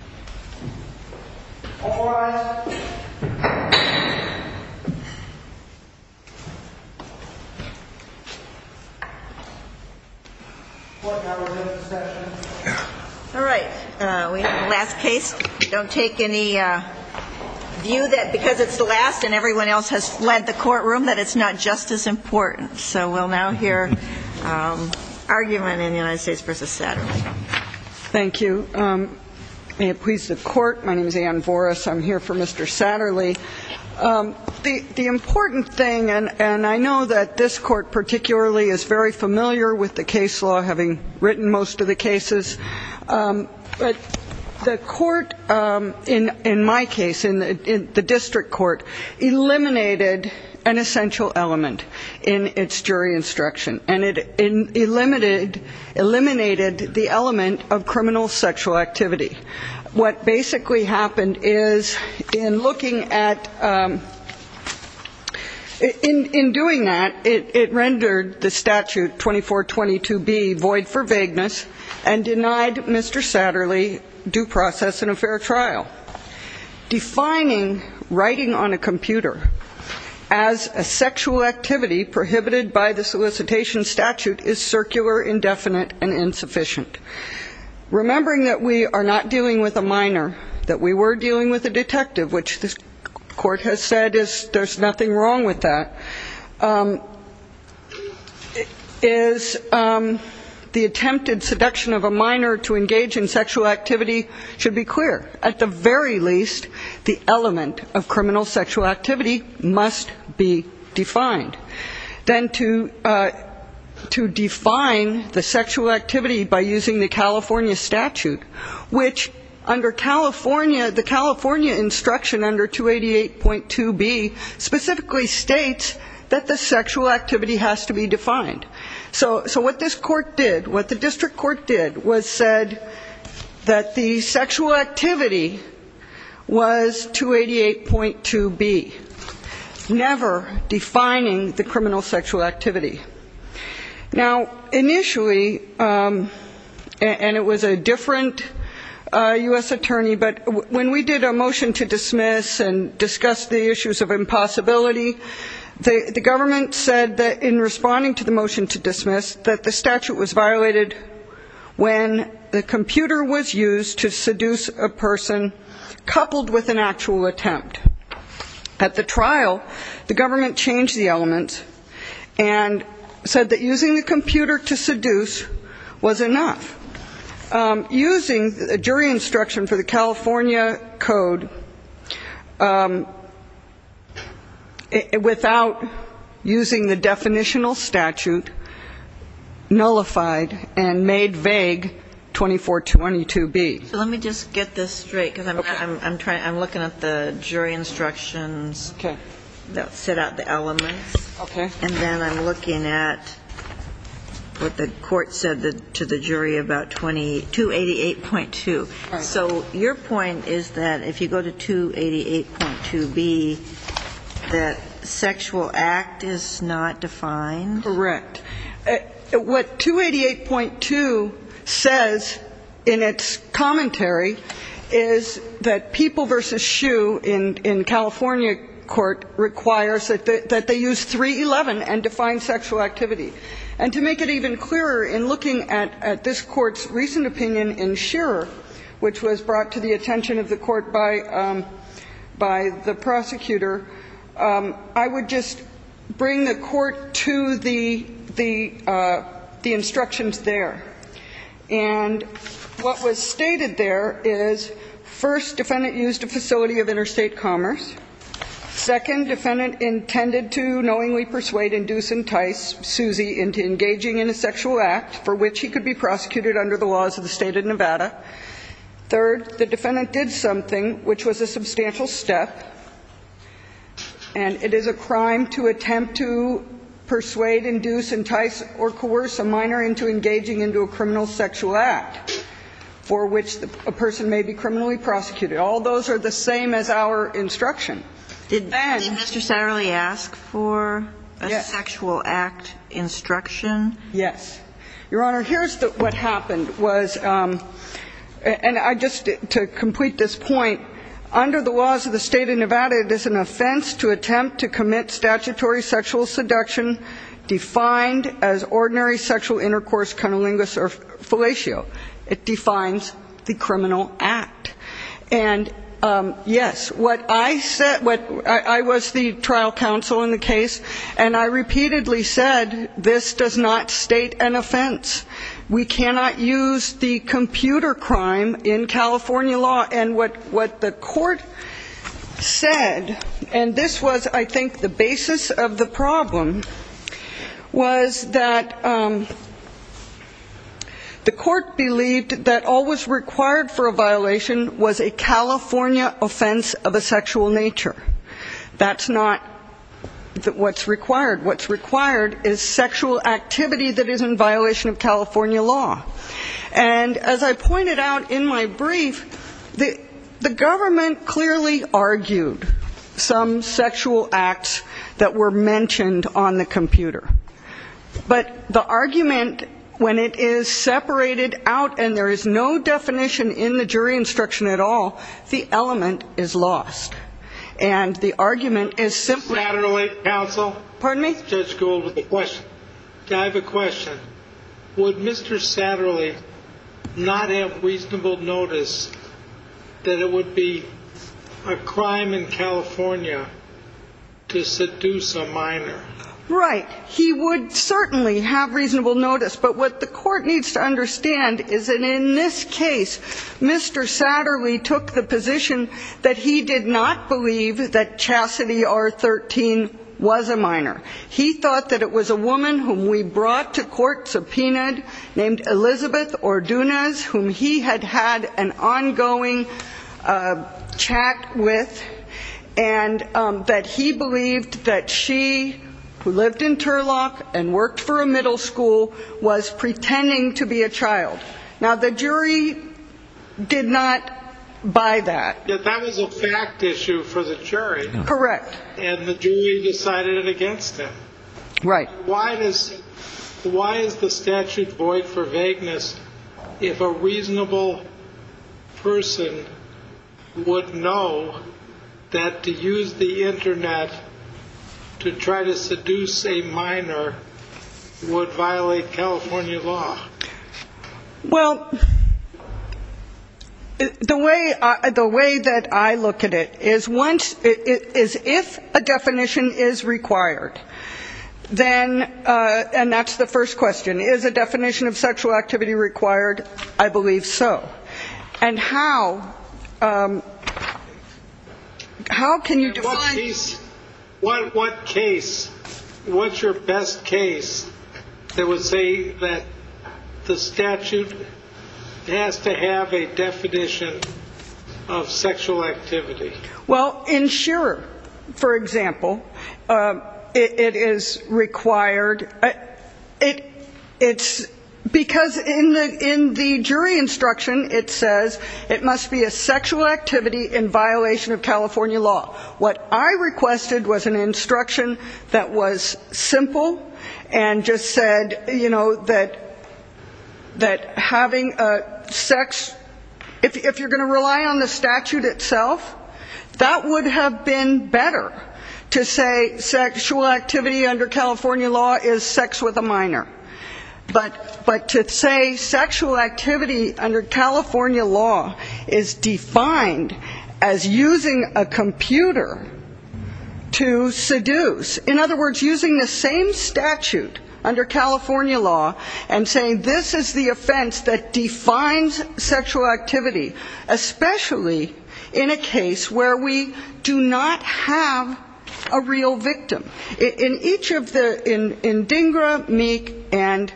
Satterlee, and I'll turn it over to you. All right. We have the last case. Don't take any view that because it's the last and everyone else has fled the courtroom that it's not just as important. So we'll now hear argument in the United States v. Satterlee. Thank you. May it please the court, my name is Ann Voris. I'm here for Mr. Satterlee. The important thing, and I know that this court particularly is very familiar with the case law, having written most of the cases. The court in my case, in the district court, eliminated an essential element in its jury instruction. And it eliminated the element of criminal sexual activity. What basically happened is in looking at, in doing that, it rendered the statute 2422B void for vagueness and denied Mr. Satterlee due process in a fair trial. Defining writing on a computer as a sexual activity prohibited by the solicitation statute is circular, indefinite, and insufficient. Remembering that we are not dealing with a minor, that we were dealing with a detective, which this court has said there's nothing wrong with that. The attempted seduction of a minor to engage in sexual activity should be clear. At the very least, the element of criminal sexual activity must be defined. Then to define the sexual activity by using the California statute, which under California, the California instruction under 288.2B specifically states that the sexual activity should be defined as a minor. The sexual activity has to be defined. So what this court did, what the district court did was said that the sexual activity was 288.2B, never defining the criminal sexual activity. Now, initially, and it was a different U.S. attorney, but when we did a motion to dismiss and discussed the issues of impossibility, the government said that in responding to the motion to dismiss, that the statute was violated when the computer was used to seduce a person coupled with an actual attempt. At the trial, the government changed the element and said that using the computer to seduce was enough. Using a jury instruction for the California code without using the definitional statute nullified and made vague 2422B. Let me just get this straight because I'm looking at the jury instructions that set out the elements. Okay. And then I'm looking at what the court said to the jury about 288.2. So your point is that if you go to 288.2B, that sexual act is not defined? Correct. What 288.2 says in its commentary is that people versus shoe in California court requires that they use 311 and define sexual activity. And to make it even clearer, in looking at this court's recent opinion in Shearer, which was brought to the attention of the court by the prosecutor, I would just bring the court to the instructions there. And what was stated there is, first, defendant used a facility of interstate commerce. Second, defendant intended to knowingly persuade, induce, entice Susie into engaging in a sexual act for which he could be prosecuted under the laws of the state of Nevada. Third, the defendant did something which was a substantial step, and it is a crime to attempt to persuade, induce, entice, or coerce a minor into engaging into a criminal sexual act for which a person may be criminally prosecuted. All those are the same as our instruction. Did Mr. Satterley ask for a sexual act instruction? Yes. Your Honor, here's what happened was, and I just, to complete this point, under the laws of the state of Nevada, it is an offense to attempt to commit statutory sexual seduction defined as ordinary sexual intercourse, cunnilingus, or fellatio. It defines the criminal act. And, yes, what I said, I was the trial counsel in the case, and I repeatedly said, this does not state an offense. We cannot use the computer crime in California law. And what the court said, and this was, I think, the basis of the problem, was that the court believed that all was required for a violation was a California offense of a sexual nature. That's not what's required. What's required is sexual activity that is in violation of California law. And, as I pointed out in my brief, the government clearly argued some sexual acts that were mentioned on the computer. But the argument, when it is separated out and there is no definition in the jury instruction at all, the element is lost. And the argument is simply the I have a question. Would Mr. Satterley not have reasonable notice that it would be a crime in California to seduce a minor? Right. He would certainly have reasonable notice. But what the court needs to understand is that, in this case, Mr. Satterley took the position that he did not believe that Chastity R-13 was a minor. He thought that it was a woman whom we brought to court, subpoenaed, named Elizabeth Ordonez, whom he had had an ongoing chat with, and that he believed that she was a minor. He lived in Turlock and worked for a middle school, was pretending to be a child. Now, the jury did not buy that. But that was a fact issue for the jury. Correct. And the jury decided against it. Right. Why is the statute void for vagueness if a reasonable person would know that to use the Internet to try to seduce a minor would violate California law? Well, the way that I look at it is if a definition is required, then, and that's the first question, is a definition of sexual activity required? I believe so. And how can you define What case, what's your best case that would say that the statute has to have a definition of sexual activity? Well, in Shearer, for example, it is required. It's because in the in the jury instruction, it says it must be a sexual activity in violation of California law. What I requested was an instruction that was simple and just said, you know, that that having sex, if you're going to rely on the statute itself, that would have been better to say sexual activity under California law is sex with a minor. But but to say sexual activity under California law is defined as using a computer to seduce, in other words, using the same statute under California law and saying this is the offense that defines sexual activity, especially in a case where a minor is a minor. where we do not have a real victim. In each of the, in Dingra, Meek, and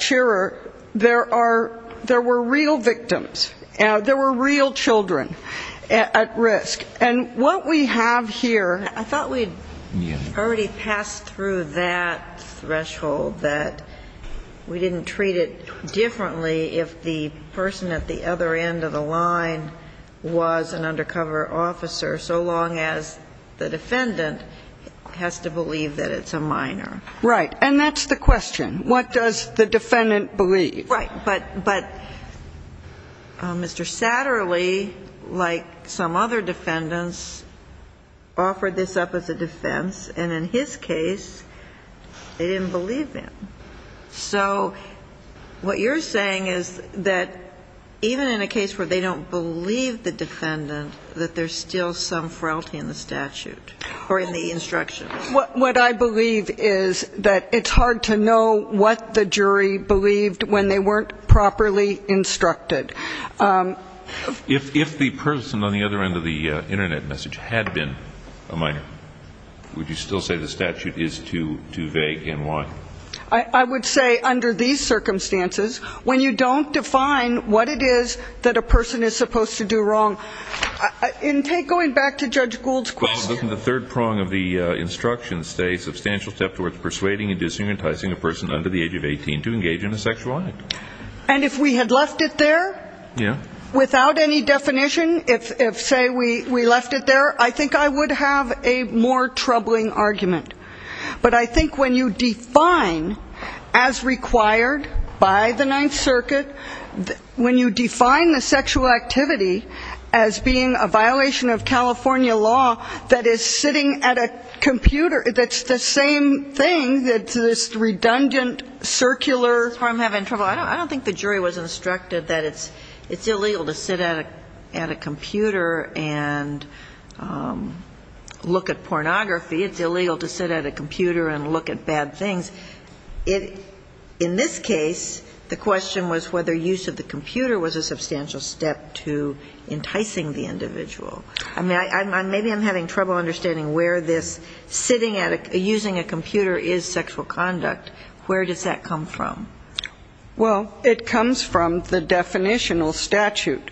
Shearer, there are, there were real victims. There were real children at risk. And what we have here I thought we'd already passed through that threshold that we didn't treat it differently if the person at the other end of the line was an undercover officer, so long as the defendant has to believe that it's a minor. Right. And that's the question. What does the defendant believe? Right. But but Mr. Satterly, like some other defendants, offered this up as a defense. And in his case, they didn't believe him. So what you're saying is that even in a case where they don't believe the defendant, that there's still some frailty in the statute or in the instructions? What I believe is that it's hard to know what the jury believed when they weren't properly instructed. If the person on the other end of the Internet message had been a minor, would you still say the statute is too vague? And why? I would say under these circumstances, when you don't define what it is that a person is supposed to do wrong, in take going back to Judge Gould's question. The third prong of the instruction states substantial step towards persuading and disinheritizing a person under the age of 18 to engage in a sexual act. And if we had left it there, you know, without any definition, if say we we left it there, I think I would have a more troubling argument. But I think when you define, as required by the Ninth Circuit, when you define the sexual activity as being a violation of California law that is sitting at a computer, that's the same thing, that's redundant, circular. I don't think the jury was instructed that it's illegal to sit at a computer and look at pornography. It's illegal to sit at a computer and look at bad things. In this case, the question was whether use of the computer was a substantial step to enticing the individual. Maybe I'm having trouble understanding where this sitting at a, using a computer is sexual conduct. Where does that come from? Well, it comes from the definitional statute.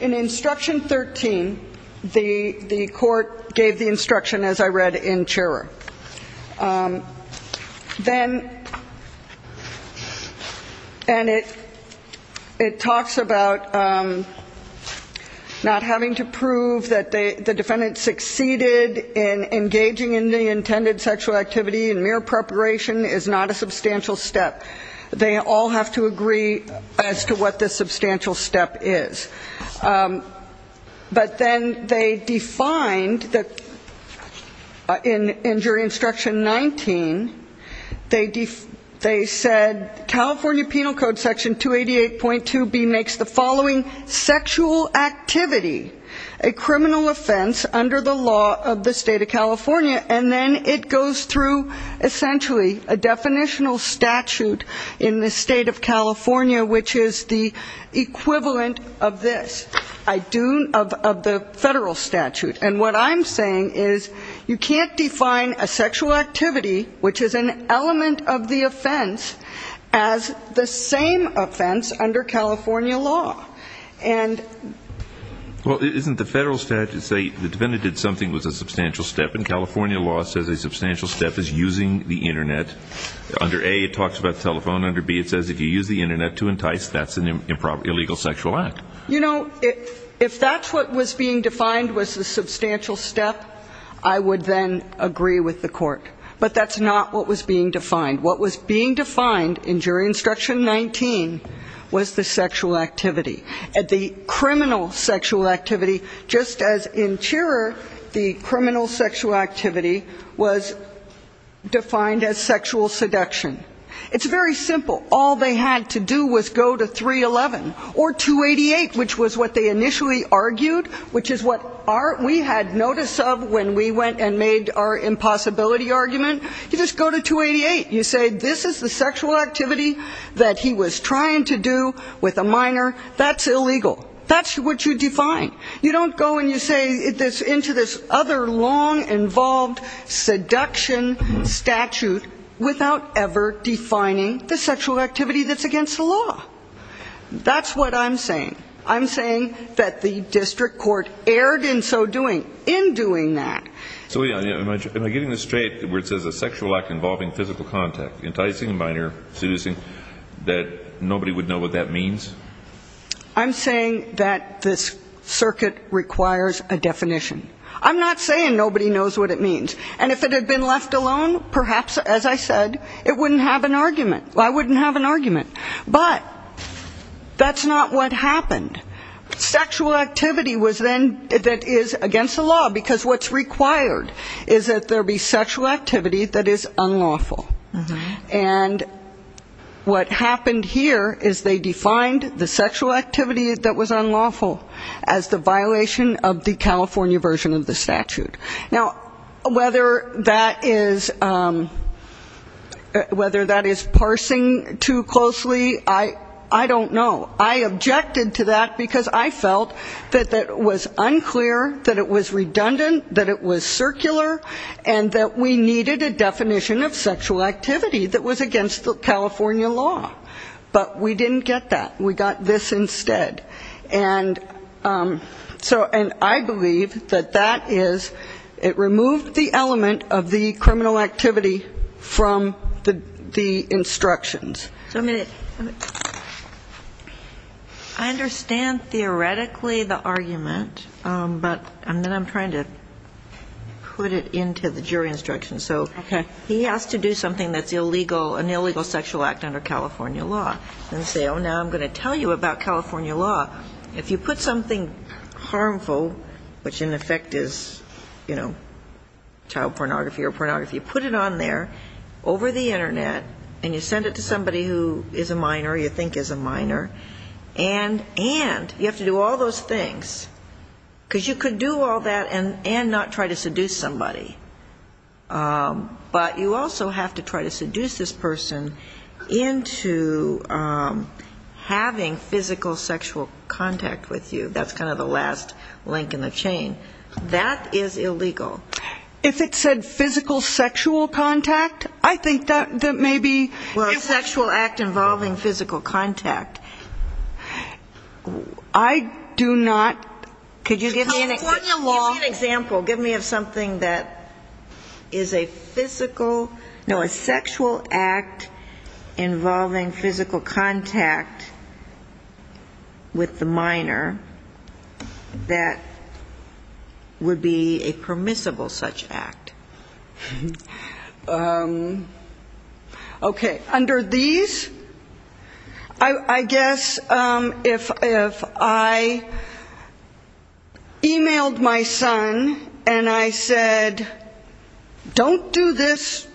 In instruction 13, the court gave the instruction, as I read in Cherer. Then, and it talks about not having to prove that the defendant succeeded in engaging in the intended sexual activity in mere preparation is not a substantial step. They all have to agree as to what the substantial step is. But then they defined, in jury instruction 19, they said, California Penal Code Section 288.2B makes the following sexual activity a criminal offense under the law of the state of California. And then it goes through, essentially, a definitional statute in the state of California, which is the equivalent of this. I do, of the federal statute. And what I'm saying is, you can't define a sexual activity, which is an element of the offense, as the same offense under California law. And... Well, isn't the federal statute saying the defendant did something that was a substantial step, and California law says a substantial step is using the Internet. Under A, it talks about the telephone. Under B, it says if you use the Internet to entice, that's an illegal sexual act. You know, if that's what was being defined was the substantial step, I would then agree with the court. But that's not what was being defined. What was being defined in jury instruction 19 was the sexual activity. The criminal sexual activity, just as in Cherer, the criminal sexual activity was defined as sexual activity. Sexual activity was defined as sexual seduction. It's very simple. All they had to do was go to 311. Or 288, which was what they initially argued, which is what we had notice of when we went and made our impossibility argument. You just go to 288. You say this is the sexual activity that he was trying to do with a minor. That's illegal. That's what you define. You don't go and you say into this other long-involved seduction statute without ever defining the sexual activity that's against the law. That's what I'm saying. I'm saying that the district court erred in so doing, in doing that. So am I getting this straight where it says a sexual act involving physical contact, enticing a minor, seducing, that nobody would know what that means? I'm saying that this circuit requires a definition. I'm not saying nobody knows what it means. And if it had been left alone, perhaps, as I said, it wouldn't have an argument. I wouldn't have an argument. But that's not what happened. Sexual activity was then that is against the law, because what's required is that there be sexual activity that is unlawful. And what happened here is they defined the sexual activity that was unlawful as the violation of the California version of the statute. Now, whether that is parsing too closely, I don't know. I objected to that, because I felt that that was unclear, that it was redundant, that it was circular, and that we needed a definition of sexual activity. That was against the California law. But we didn't get that. We got this instead. And so, and I believe that that is, it removed the element of the criminal activity from the instructions. I understand theoretically the argument, but then I'm trying to put it into the jury instructions. So he has to do something else. He has to do something that's illegal, an illegal sexual act under California law, and say, oh, now I'm going to tell you about California law. If you put something harmful, which in effect is, you know, child pornography or pornography, put it on there, over the Internet, and you send it to somebody who is a minor, you think is a minor, and you have to do all those things, because you could do all that and not try to seduce somebody. But you also have to try to do it in a way that's not a violation of the California law. You have to try to seduce this person into having physical sexual contact with you. That's kind of the last link in the chain. That is illegal. If it said physical sexual contact, I think that maybe... Well, a sexual act involving physical contact. I do not... California law... So a sexual act involving physical contact with the minor, that would be a permissible such act. Okay. Under these, I guess if I e-mailed my son, and I said, don't do this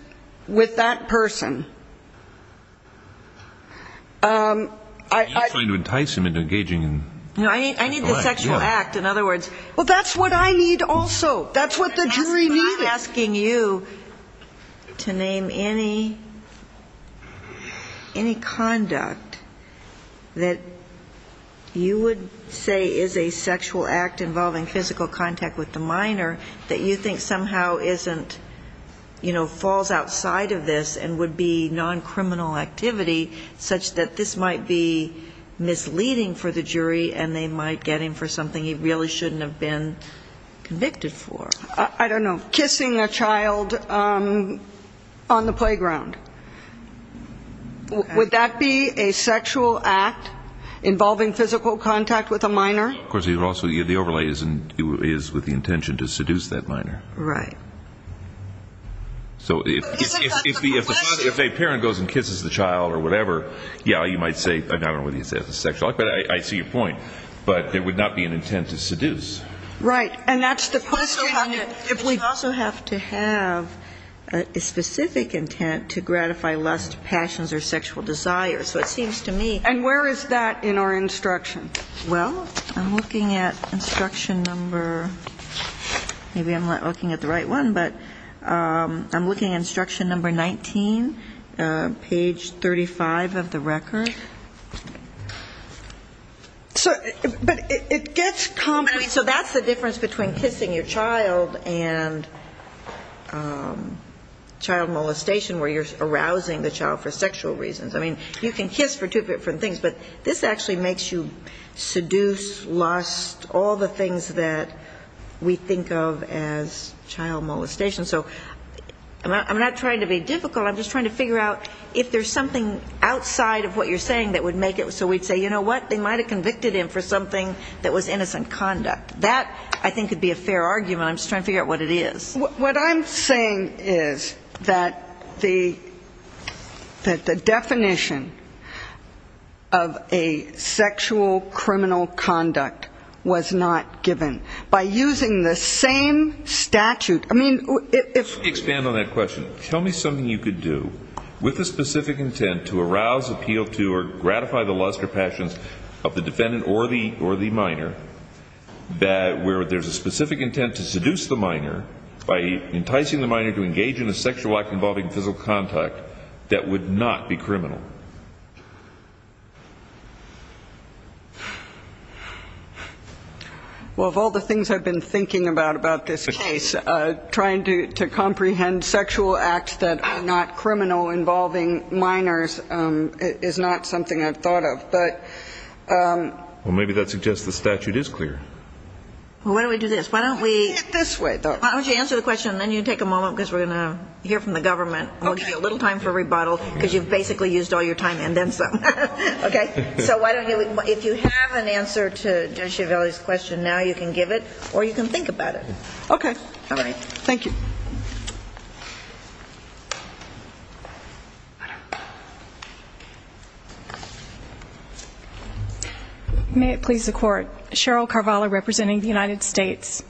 with that person... I need the sexual act, in other words. Well, that's what I need also. That's what the jury needed. I'm asking you to name any conduct that you would say is a sexual act involving physical contact with the minor, that you think somehow isn't, you know, falls outside of this and would be non-criminal activity, such that this might be misleading for the jury, and they might get him for something he really shouldn't have done. I don't know. Kissing a child on the playground. Would that be a sexual act involving physical contact with a minor? Of course, the overlay is with the intention to seduce that minor. Right. But isn't that the question? If a parent goes and kisses the child or whatever, yeah, you might say, I don't know whether you'd say that's a sexual act, but I see your point. But it would not be an intent to seduce. Right. And that's the question. We also have to have a specific intent to gratify lust, passions, or sexual desire. So it seems to me... And where is that in our instruction? Well, I'm looking at instruction number... Maybe I'm not looking at the right one, but I'm looking at instruction number 19, page 35 of the record. But it gets complicated. So that's the difference between kissing your child and child molestation, where you're arousing the child for sexual reasons. I mean, you can kiss for two different things, but this actually makes you seduce, lust, all the things that we think of as child molestation. So I'm not trying to be difficult. I'm just trying to figure out if there's something outside of what you're saying that would make it so we'd say, you know what? They might have convicted him for something that was innocent conduct. That, I think, could be a fair argument. I'm just trying to figure out what it is. What I'm saying is that the definition of a sexual criminal conduct was not given. By using the same statute. I mean, if... Let me expand on that question. Tell me something you could do with a specific intent to arouse, appeal to, or gratify the lust or passions of the defendant or the minor, where there's a specific intent to seduce the minor, i.e., enticing the minor to engage in a sexual act involving physical contact, that would not be criminal. Well, of all the things I've been thinking about about this case, trying to comprehend sexual acts that are not criminal involving minors is not something I've thought of. But... Well, maybe that suggests the statute is clear. Well, why don't we do this? Why don't we... Let's do it this way, though. Why don't you answer the question, and then you take a moment because we're going to hear from the government. Okay. We'll give you a little time for rebuttal because you've basically used all your time and then some. Okay? So why don't you... If you have an answer to Judge Chiavelli's question now, you can give it, or you can think about it. Okay. All right. Thank you. May it please the Court. Cheryl Carvalho representing the United States.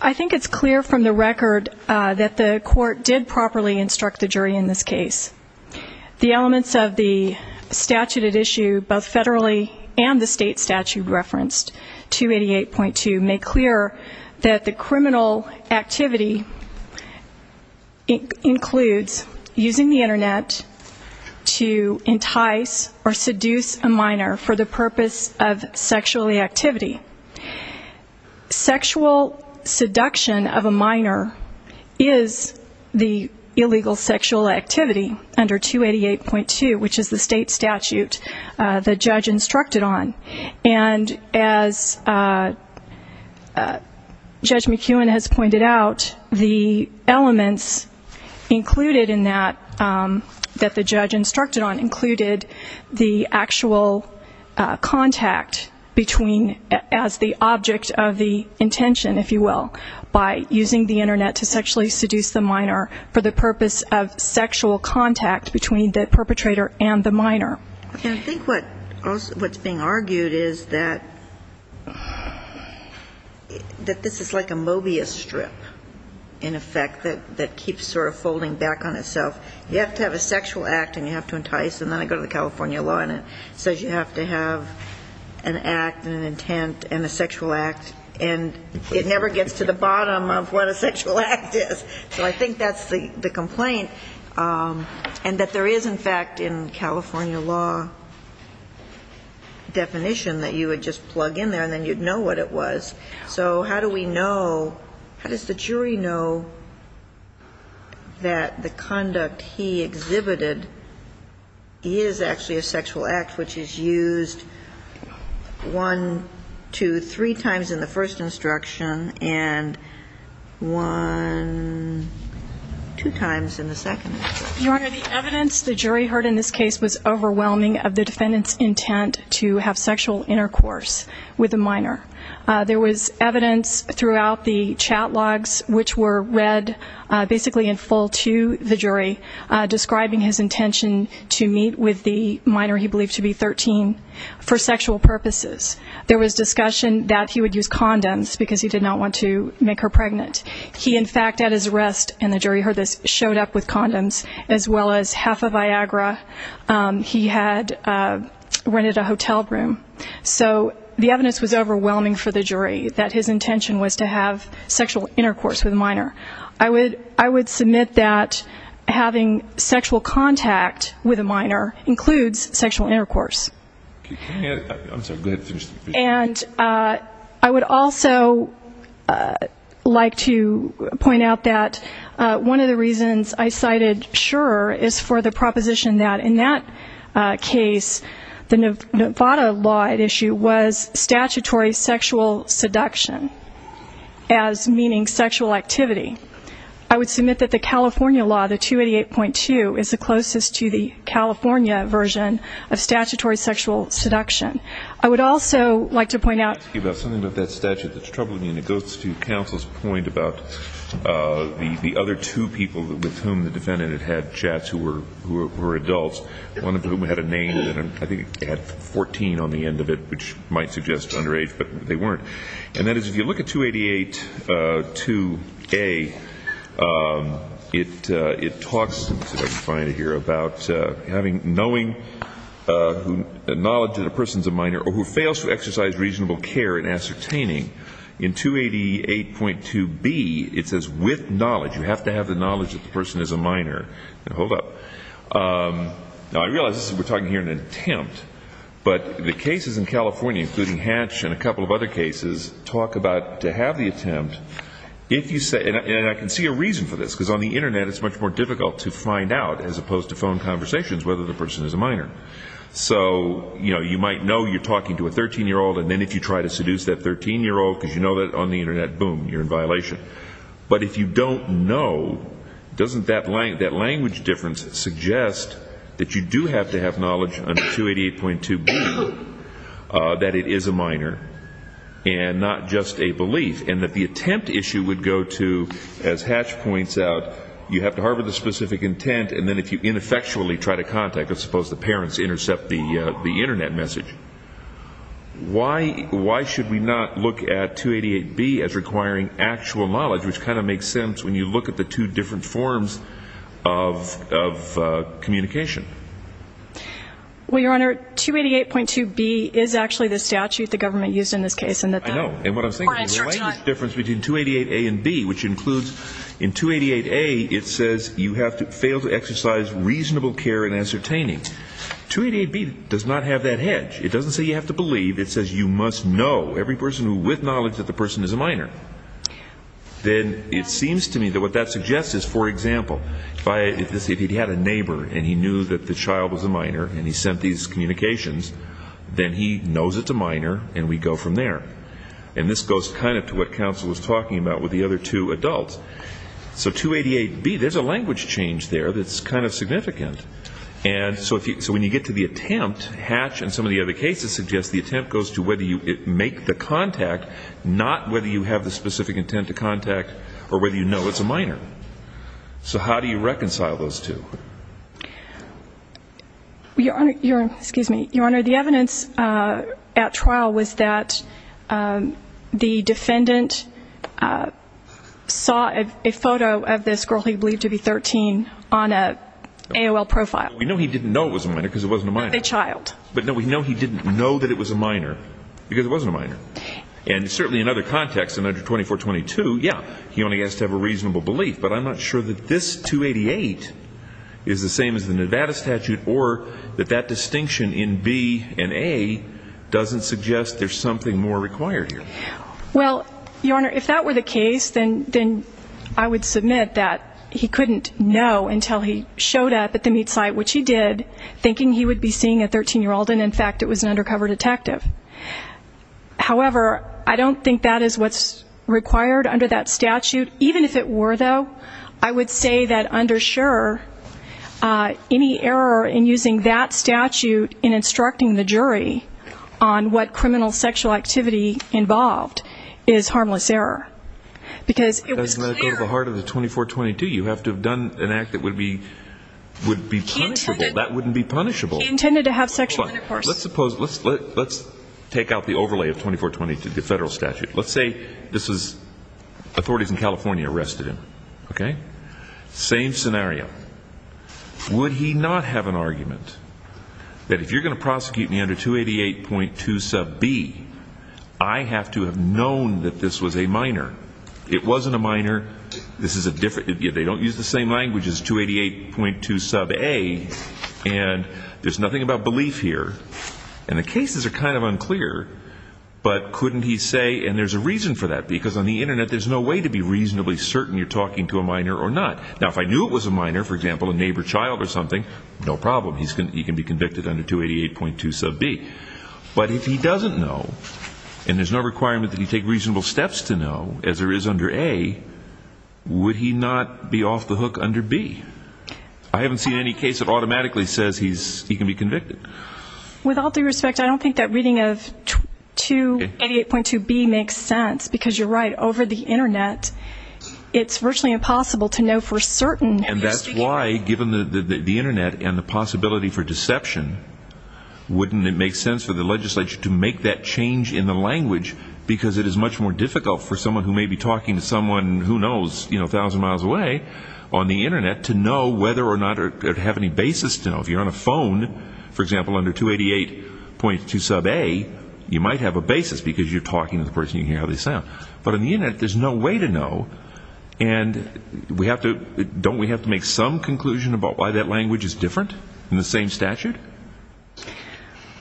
I think it's clear from the record that the Court did properly instruct the jury in this case. The elements of the statute at issue, both federally and the state statute referenced, 288.2, that the criminal activity includes using the Internet to entice or seduce a minor for the purpose of sexual activity. Sexual seduction of a minor is the illegal sexual activity under 288.2, which is the state statute the judge instructed on. And as Judge McEwen has pointed out, the elements included in that that the judge instructed on included the actual contact between, as the object of the intention, if you will, by using the Internet to sexually seduce the minor for the purpose of sexual contact between the perpetrator and the minor. And I think what's being argued is that this is like a Mobius strip, in effect, that keeps sort of folding back on itself. You have to have a sexual act and you have to entice, and then I go to the California law and it says you have to have an act and an intent and a sexual act, and it never gets to the bottom of what a sexual act is. So I think that's the complaint, and that there is, in fact, in California law definition that you would just plug in there and then you'd know what it was. So how do we know, how does the jury know that the conduct he exhibited is actually a sexual act, which is used one, two, three times in the first instruction, and one, two times in the second? Your Honor, the evidence the jury heard in this case was overwhelming of the defendant's intent to have sexual intercourse with a minor. There was evidence throughout the chat logs which were read basically in full to the jury describing his intention to meet with the minor he believed to be 13 for sexual purposes. There was discussion that he would use condoms because he did not want to make her pregnant. He, in fact, at his arrest, and the jury heard this, showed up with condoms, as well as half a Viagra. He had rented a hotel room. So the evidence was overwhelming for the jury that his intention was to have sexual intercourse with a minor. I would submit that having sexual contact with a minor includes sexual intercourse. And I would also like to point out that one of the reasons I cited Shurer is for the proposition that in that case the Nevada law at issue was statutory sexual seduction, as meaning sexual activity. I would submit that the California law, the 288.2, is the closest to the California version of statutory sexual seduction. I would also like to point out something about that statute that's troubling me, and it goes to counsel's point about the other two people with whom the defendant had chats who were adults, one of whom had a name that I think had 14 on the end of it, which might suggest underage, but they weren't. And that is, if you look at 288.2A, it talks, it's funny to hear, about knowing the knowledge that a person is a minor or who fails to exercise reasonable care in ascertaining. In 288.2B, it says with knowledge. You have to have the knowledge that the person is a minor. Now, I realize we're talking here in an attempt, but the cases in California, including Hatch and a couple of other cases, talk about to have the attempt. And I can see a reason for this, because on the Internet it's much more difficult to find out, as opposed to phone conversations, whether the person is a minor. So you might know you're talking to a 13-year-old, and then if you try to seduce that 13-year-old, because you know that on the Internet, boom, you're in violation. But if you don't know, doesn't that language difference suggest that you do have to have knowledge under 288.2B, that it is a minor, and not just a belief? And that the attempt issue would go to, as Hatch points out, you have to harbor the specific intent, and then if you ineffectually try to contact, let's suppose the parents intercept the Internet message, why should we not look at 288.2B as requiring actual knowledge, which kind of makes sense when you look at the two different forms of communication? Well, Your Honor, 288.2B is actually the statute the government used in this case. I know, and what I'm saying is the difference between 288.2A and 288.2B, which includes in 288.2A it says you have to fail to exercise reasonable care and ascertaining. 288.2B does not have that hedge. It doesn't say you have to believe. It says you must know, every person with knowledge that the person is a minor. Then it seems to me that what that suggests is, for example, if he had a neighbor and he knew that the child was a minor and he sent these communications, then he knows it's a minor and we go from there. And this goes kind of to what counsel was talking about with the other two adults. So 288.2B, there's a language change there that's kind of significant. And so when you get to the attempt, Hatch and some of the other cases suggest the attempt goes to whether you make the contact, not whether you have the specific intent to contact or whether you know it's a minor. So how do you reconcile those two? Your Honor, the evidence at trial was that the defendant sought to make contact with the child. The child was a minor. The child was a minor. And certainly in other contexts, under 2422, yeah, he only has to have a reasonable belief. But I'm not sure that this 288 is the same as the Nevada statute or that that distinction in B and A doesn't suggest there's something more required here. I would submit that he couldn't know until he showed up at the meet site, which he did, thinking he would be seeing a 13-year-old and, in fact, it was an undercover detective. However, I don't think that is what's required under that statute. Even if it were, though, I would say that under sure, any error in using that statute in instructing the jury on what criminal sexual activity involved is harmless error. It doesn't go to the heart of the 2422. You have to have done an act that would be punishable. That wouldn't be punishable. He intended to have sexual intercourse. Let's take out the overlay of 2422, the federal statute. Let's say this is authorities in California arrested him, okay? Same scenario. Would he not have an argument that if you're going to prosecute me under 288.2 sub B, I have to have known that this was a minor? It wasn't a minor. They don't use the same language as 288.2 sub A, and there's nothing about belief here. And the cases are kind of unclear, but couldn't he say, and there's a reason for that, because on the Internet, there's no way to be reasonably certain you're talking to a minor or not. Now, if I knew it was a minor, for example, a neighbor child or something, no problem. He can be convicted under 288.2 sub B. But if he doesn't know, and there's no requirement that he take reasonable steps to know, as there is under A, would he not be off the hook under B? I haven't seen any case that automatically says he can be convicted. With all due respect, I don't think that reading of 288.2 B makes sense, because you're right. And that's why, given the Internet and the possibility for deception, wouldn't it make sense for the legislature to make that change in the language? Because it is much more difficult for someone who may be talking to someone who knows 1,000 miles away on the Internet to know whether or not they have any basis to know. If you're on a phone, for example, under 288.2 sub A, you might have a basis, because you're talking to the person and you can hear how they sound. But if you're on the Internet, there's no way to know. And don't we have to make some conclusion about why that language is different in the same statute?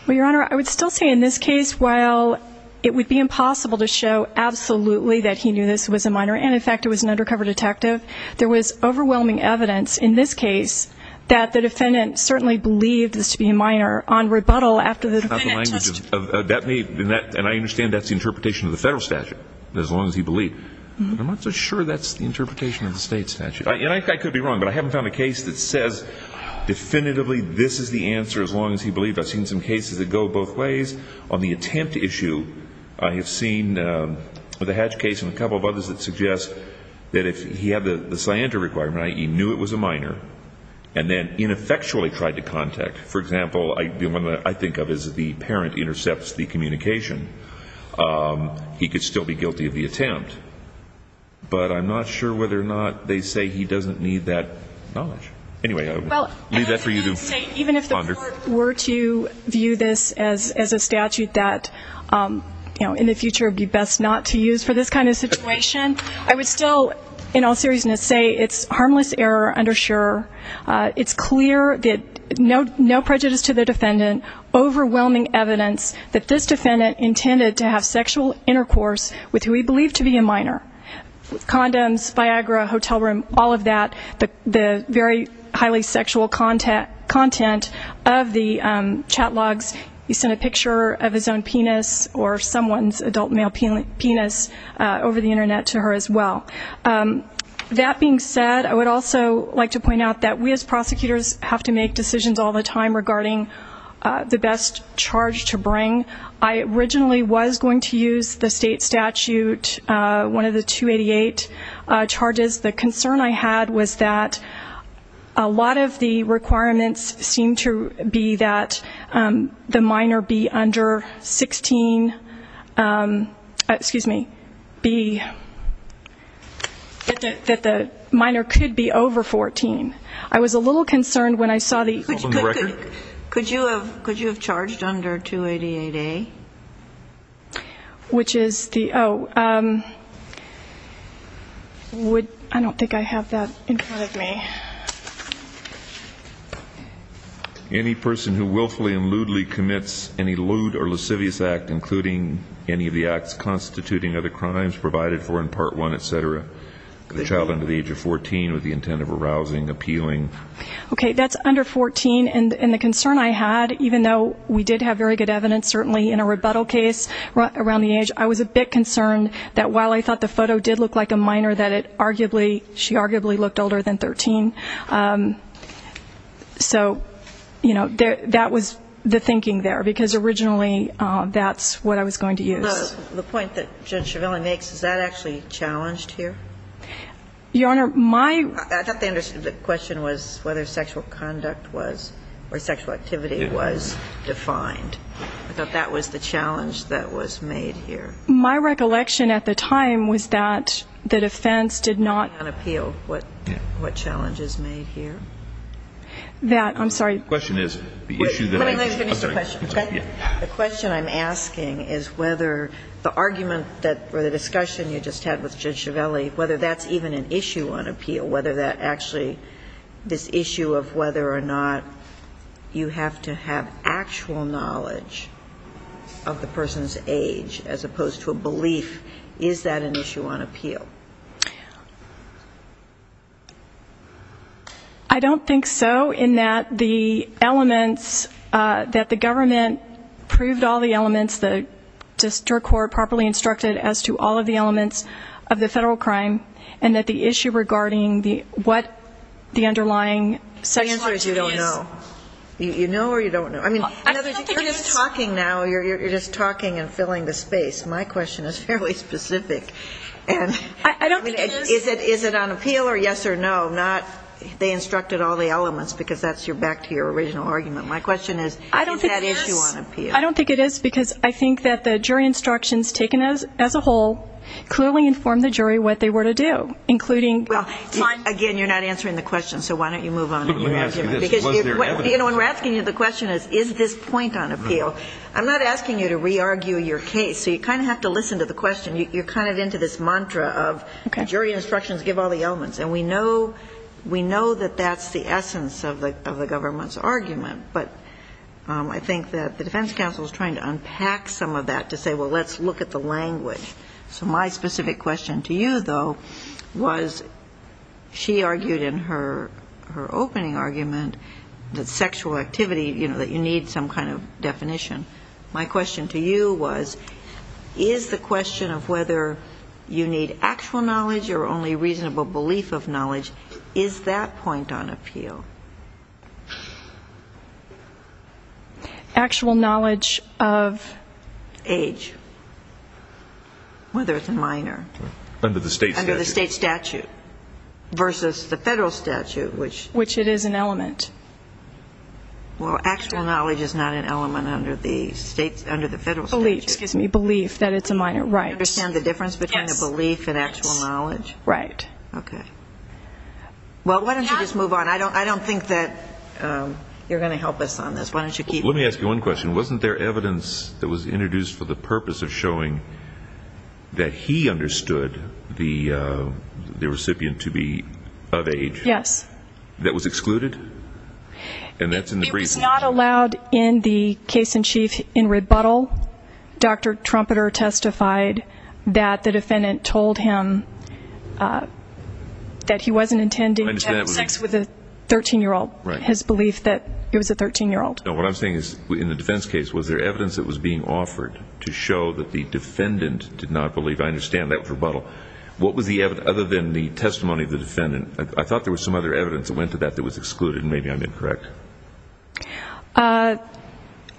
Well, Your Honor, I would still say in this case, while it would be impossible to show absolutely that he knew this was a minor and, in fact, it was an undercover detective, there was overwhelming evidence in this case that the defendant certainly believed this to be a minor on rebuttal after the defendant testified. And I understand that's the interpretation of the federal statute, as long as he believed. I'm not so sure that's the interpretation of the state statute. And I could be wrong, but I haven't found a case that says definitively this is the answer as long as he believed. I've seen some cases that go both ways. On the attempt issue, I have seen the Hatch case and a couple of others that suggest that if he had the scienter requirement, i.e., knew it was a minor, and then ineffectually tried to contact, for example, I think of as the parent intercepts the communication, he could still be guilty of the attempt. But I'm not sure whether or not they say he doesn't need that knowledge. Anyway, I would leave that for you to ponder. Even if the court were to view this as a statute that, you know, in the future would be best not to use for this kind of situation, I would still, in all seriousness, say it's harmless error, undersure. It's clear that no prejudice to the defendant, overwhelming evidence that this defendant intended to have sexual intercourse with who he believed to be a minor. Condoms, Viagra, hotel room, all of that, the very highly sexual content of the chat logs. He sent a picture of his own penis or someone's adult male penis over the Internet to her as well. That being said, I would also like to point out that we as prosecutors have to make decisions all the time regarding the best charge to bring. I originally was going to use the state statute, one of the 288 charges. The concern I had was that a lot of the requirements seemed to be that the minor be under 16, excuse me, that the minor could be over 14. I was a little concerned when I saw the... Could you have charged under 288A? Which is the, oh, I don't think I have that in front of me. Any person who willfully and lewdly commits any lewd or lascivious act, including any of the acts constituting other crimes provided for in Part 1, etc., the child under the age of 14 with the intent of arousing, appealing... Okay, that's under 14, and the concern I had, even though we did have very good evidence, certainly in a rebuttal case around the age, I was a bit concerned that while I thought the photo did look like a minor, that it arguably, she arguably looked older than 13. So, you know, that was the thinking there, because originally that's what I was going to use. The point that Judge Schiavone makes, is that actually challenged here? Your Honor, my... I thought the question was whether sexual conduct was, or sexual activity was defined. I thought that was the challenge that was made here. My recollection at the time was that the defense did not... Appeal, what challenge is made here? That, I'm sorry... The question is, the issue that... Let me finish the question, okay? The question I'm asking is whether the argument that, or the discussion you just had with Judge Schiavelli, whether that's even an issue on appeal, whether that actually, this issue of whether or not you have to have actual knowledge of the person's age, as opposed to a belief, is that an issue on appeal? I don't think so, in that the elements, that the government proved all the elements, the district court properly instructed as to all of the elements of the federal crime, and that the issue regarding what the underlying... The answer is you don't know. You know or you don't know. You're just talking now. You're just talking and filling the space. My question is fairly specific. I don't think it is. Is it on appeal or yes or no? Not, they instructed all the elements, because that's back to your original argument. My question is, is that issue on appeal? I don't think it is, because I think that the jury instructions taken as a whole, clearly informed the jury what they were to do, including... Again, you're not answering the question, so why don't you move on? You know, when we're asking you the question is, is this point on appeal? I'm not asking you to re-argue your case, so you kind of have to listen to the question. You're kind of into this mantra of jury instructions give all the elements, and we know that that's the essence of the government's argument, but I think that the defense counsel is trying to unpack some of that to say, well, let's look at the language. So my specific question to you, though, was she argued in her opening argument that sexual activity, you know, that you need some kind of definition. My question to you was, is the question of whether you need actual knowledge or only reasonable belief of knowledge, is that point on appeal? Actual knowledge of? Age. Whether it's a minor. Under the state statute. Under the state statute versus the federal statute, which... Which it is an element. Well, actual knowledge is not an element under the federal statute. Belief, excuse me, belief that it's a minor, right. You understand the difference between the belief and actual knowledge? Yes. Right. Okay. Well, why don't you just move on? I don't think that you're going to help us on this. Why don't you keep moving? Let me ask you one question. Wasn't there evidence that was introduced for the purpose of showing that he understood the recipient to be of age? Yes. That was excluded? It was not allowed in the case in chief in rebuttal. Dr. Trumpeter testified that the defendant told him that he wasn't intending to have sex with a 13-year-old. Right. His belief that it was a 13-year-old. No, what I'm saying is, in the defense case, was there evidence that was being offered to show that the defendant did not believe? I understand that rebuttal. What was the evidence other than the testimony of the defendant? I thought there was some other evidence that went to that that was excluded, and maybe I'm incorrect.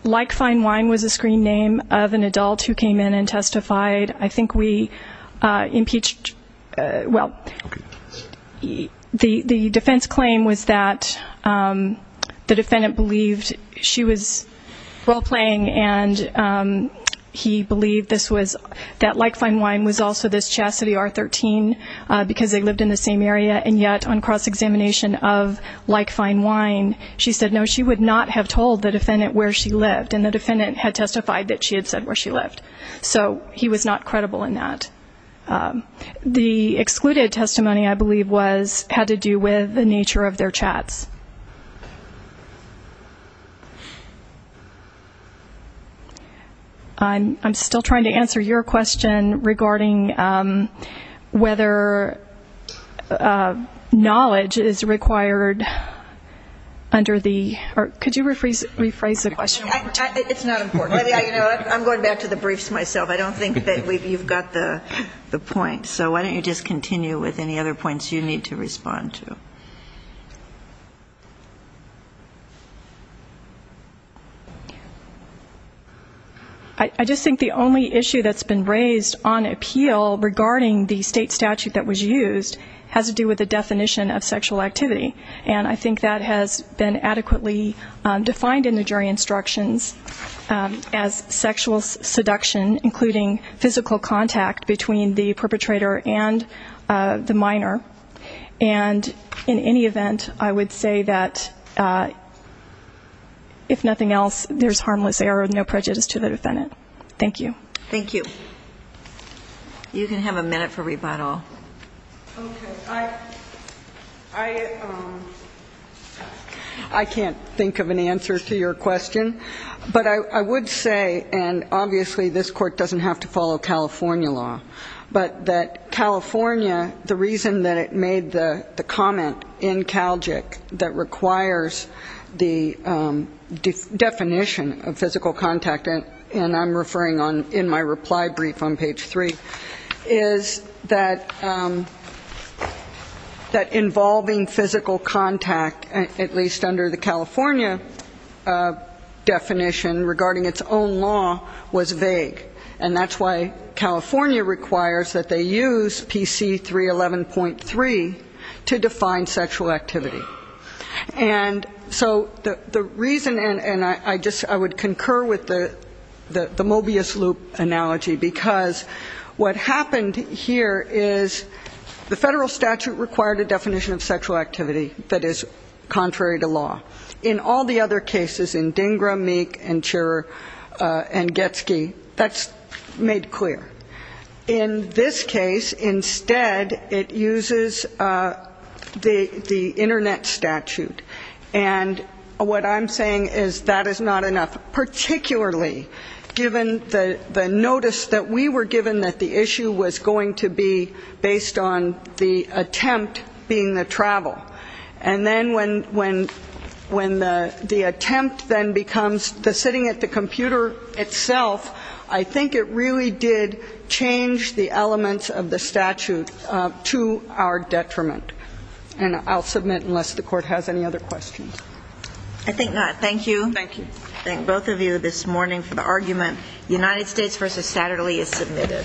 Like Fine Wine was a screen name of an adult who came in and testified. I think we impeached, well, the defense claim was that the defendant believed she was role-playing and he believed that Like Fine Wine was also this chastity R-13 because they lived in the same area, and yet on cross-examination of Like Fine Wine, she said no, she would not have told the defendant where she lived, and the defendant had testified that she had said where she lived. So he was not credible in that. The excluded testimony, I believe, had to do with the nature of their chats. I'm still trying to answer your question regarding whether knowledge is required under the or could you rephrase the question? It's not important. I'm going back to the briefs myself. I don't think that you've got the point. So why don't you just continue with any other points you need to respond to. I just think the only issue that's been raised on appeal regarding the state statute that was used has to do with the definition of sexual activity, and I think that has been adequately defined in the jury instructions as sexual seduction, including physical contact between the perpetrator and the minor, and in any event, I would say that if nothing else, there's harmless error and no prejudice to the defendant. Thank you. Thank you. You can have a minute for rebuttal. I can't think of an answer to your question, but I would say, and obviously this Court doesn't have to follow California law, but that California, the reason that it made the comment in CALGIC that requires the definition of physical contact, and I'm referring in my reply brief on page three, is that involving physical contact, at least under the California definition regarding its own law, was vague, and that's why California requires that they use PC311.3 to define sexual activity. And so the reason, and I would concur with the Mobius loop analogy, because what happened here is the federal statute required a definition of sexual activity that is contrary to law. In all the other cases, in DINGRA, MEEK, and CHERA, and Getzky, that's made clear. In this case, instead, it uses the Internet statute, and what I'm saying is that is not enough, particularly given the notice that we were given that the issue was going to be based on the attempt being the travel. And then when the attempt then becomes the sitting at the computer itself, I think it really did change the elements of the statute to our detriment. And I'll submit unless the Court has any other questions. I think not. Thank you. Thank you. Thank both of you this morning for the argument. United States v. Saturday is submitted.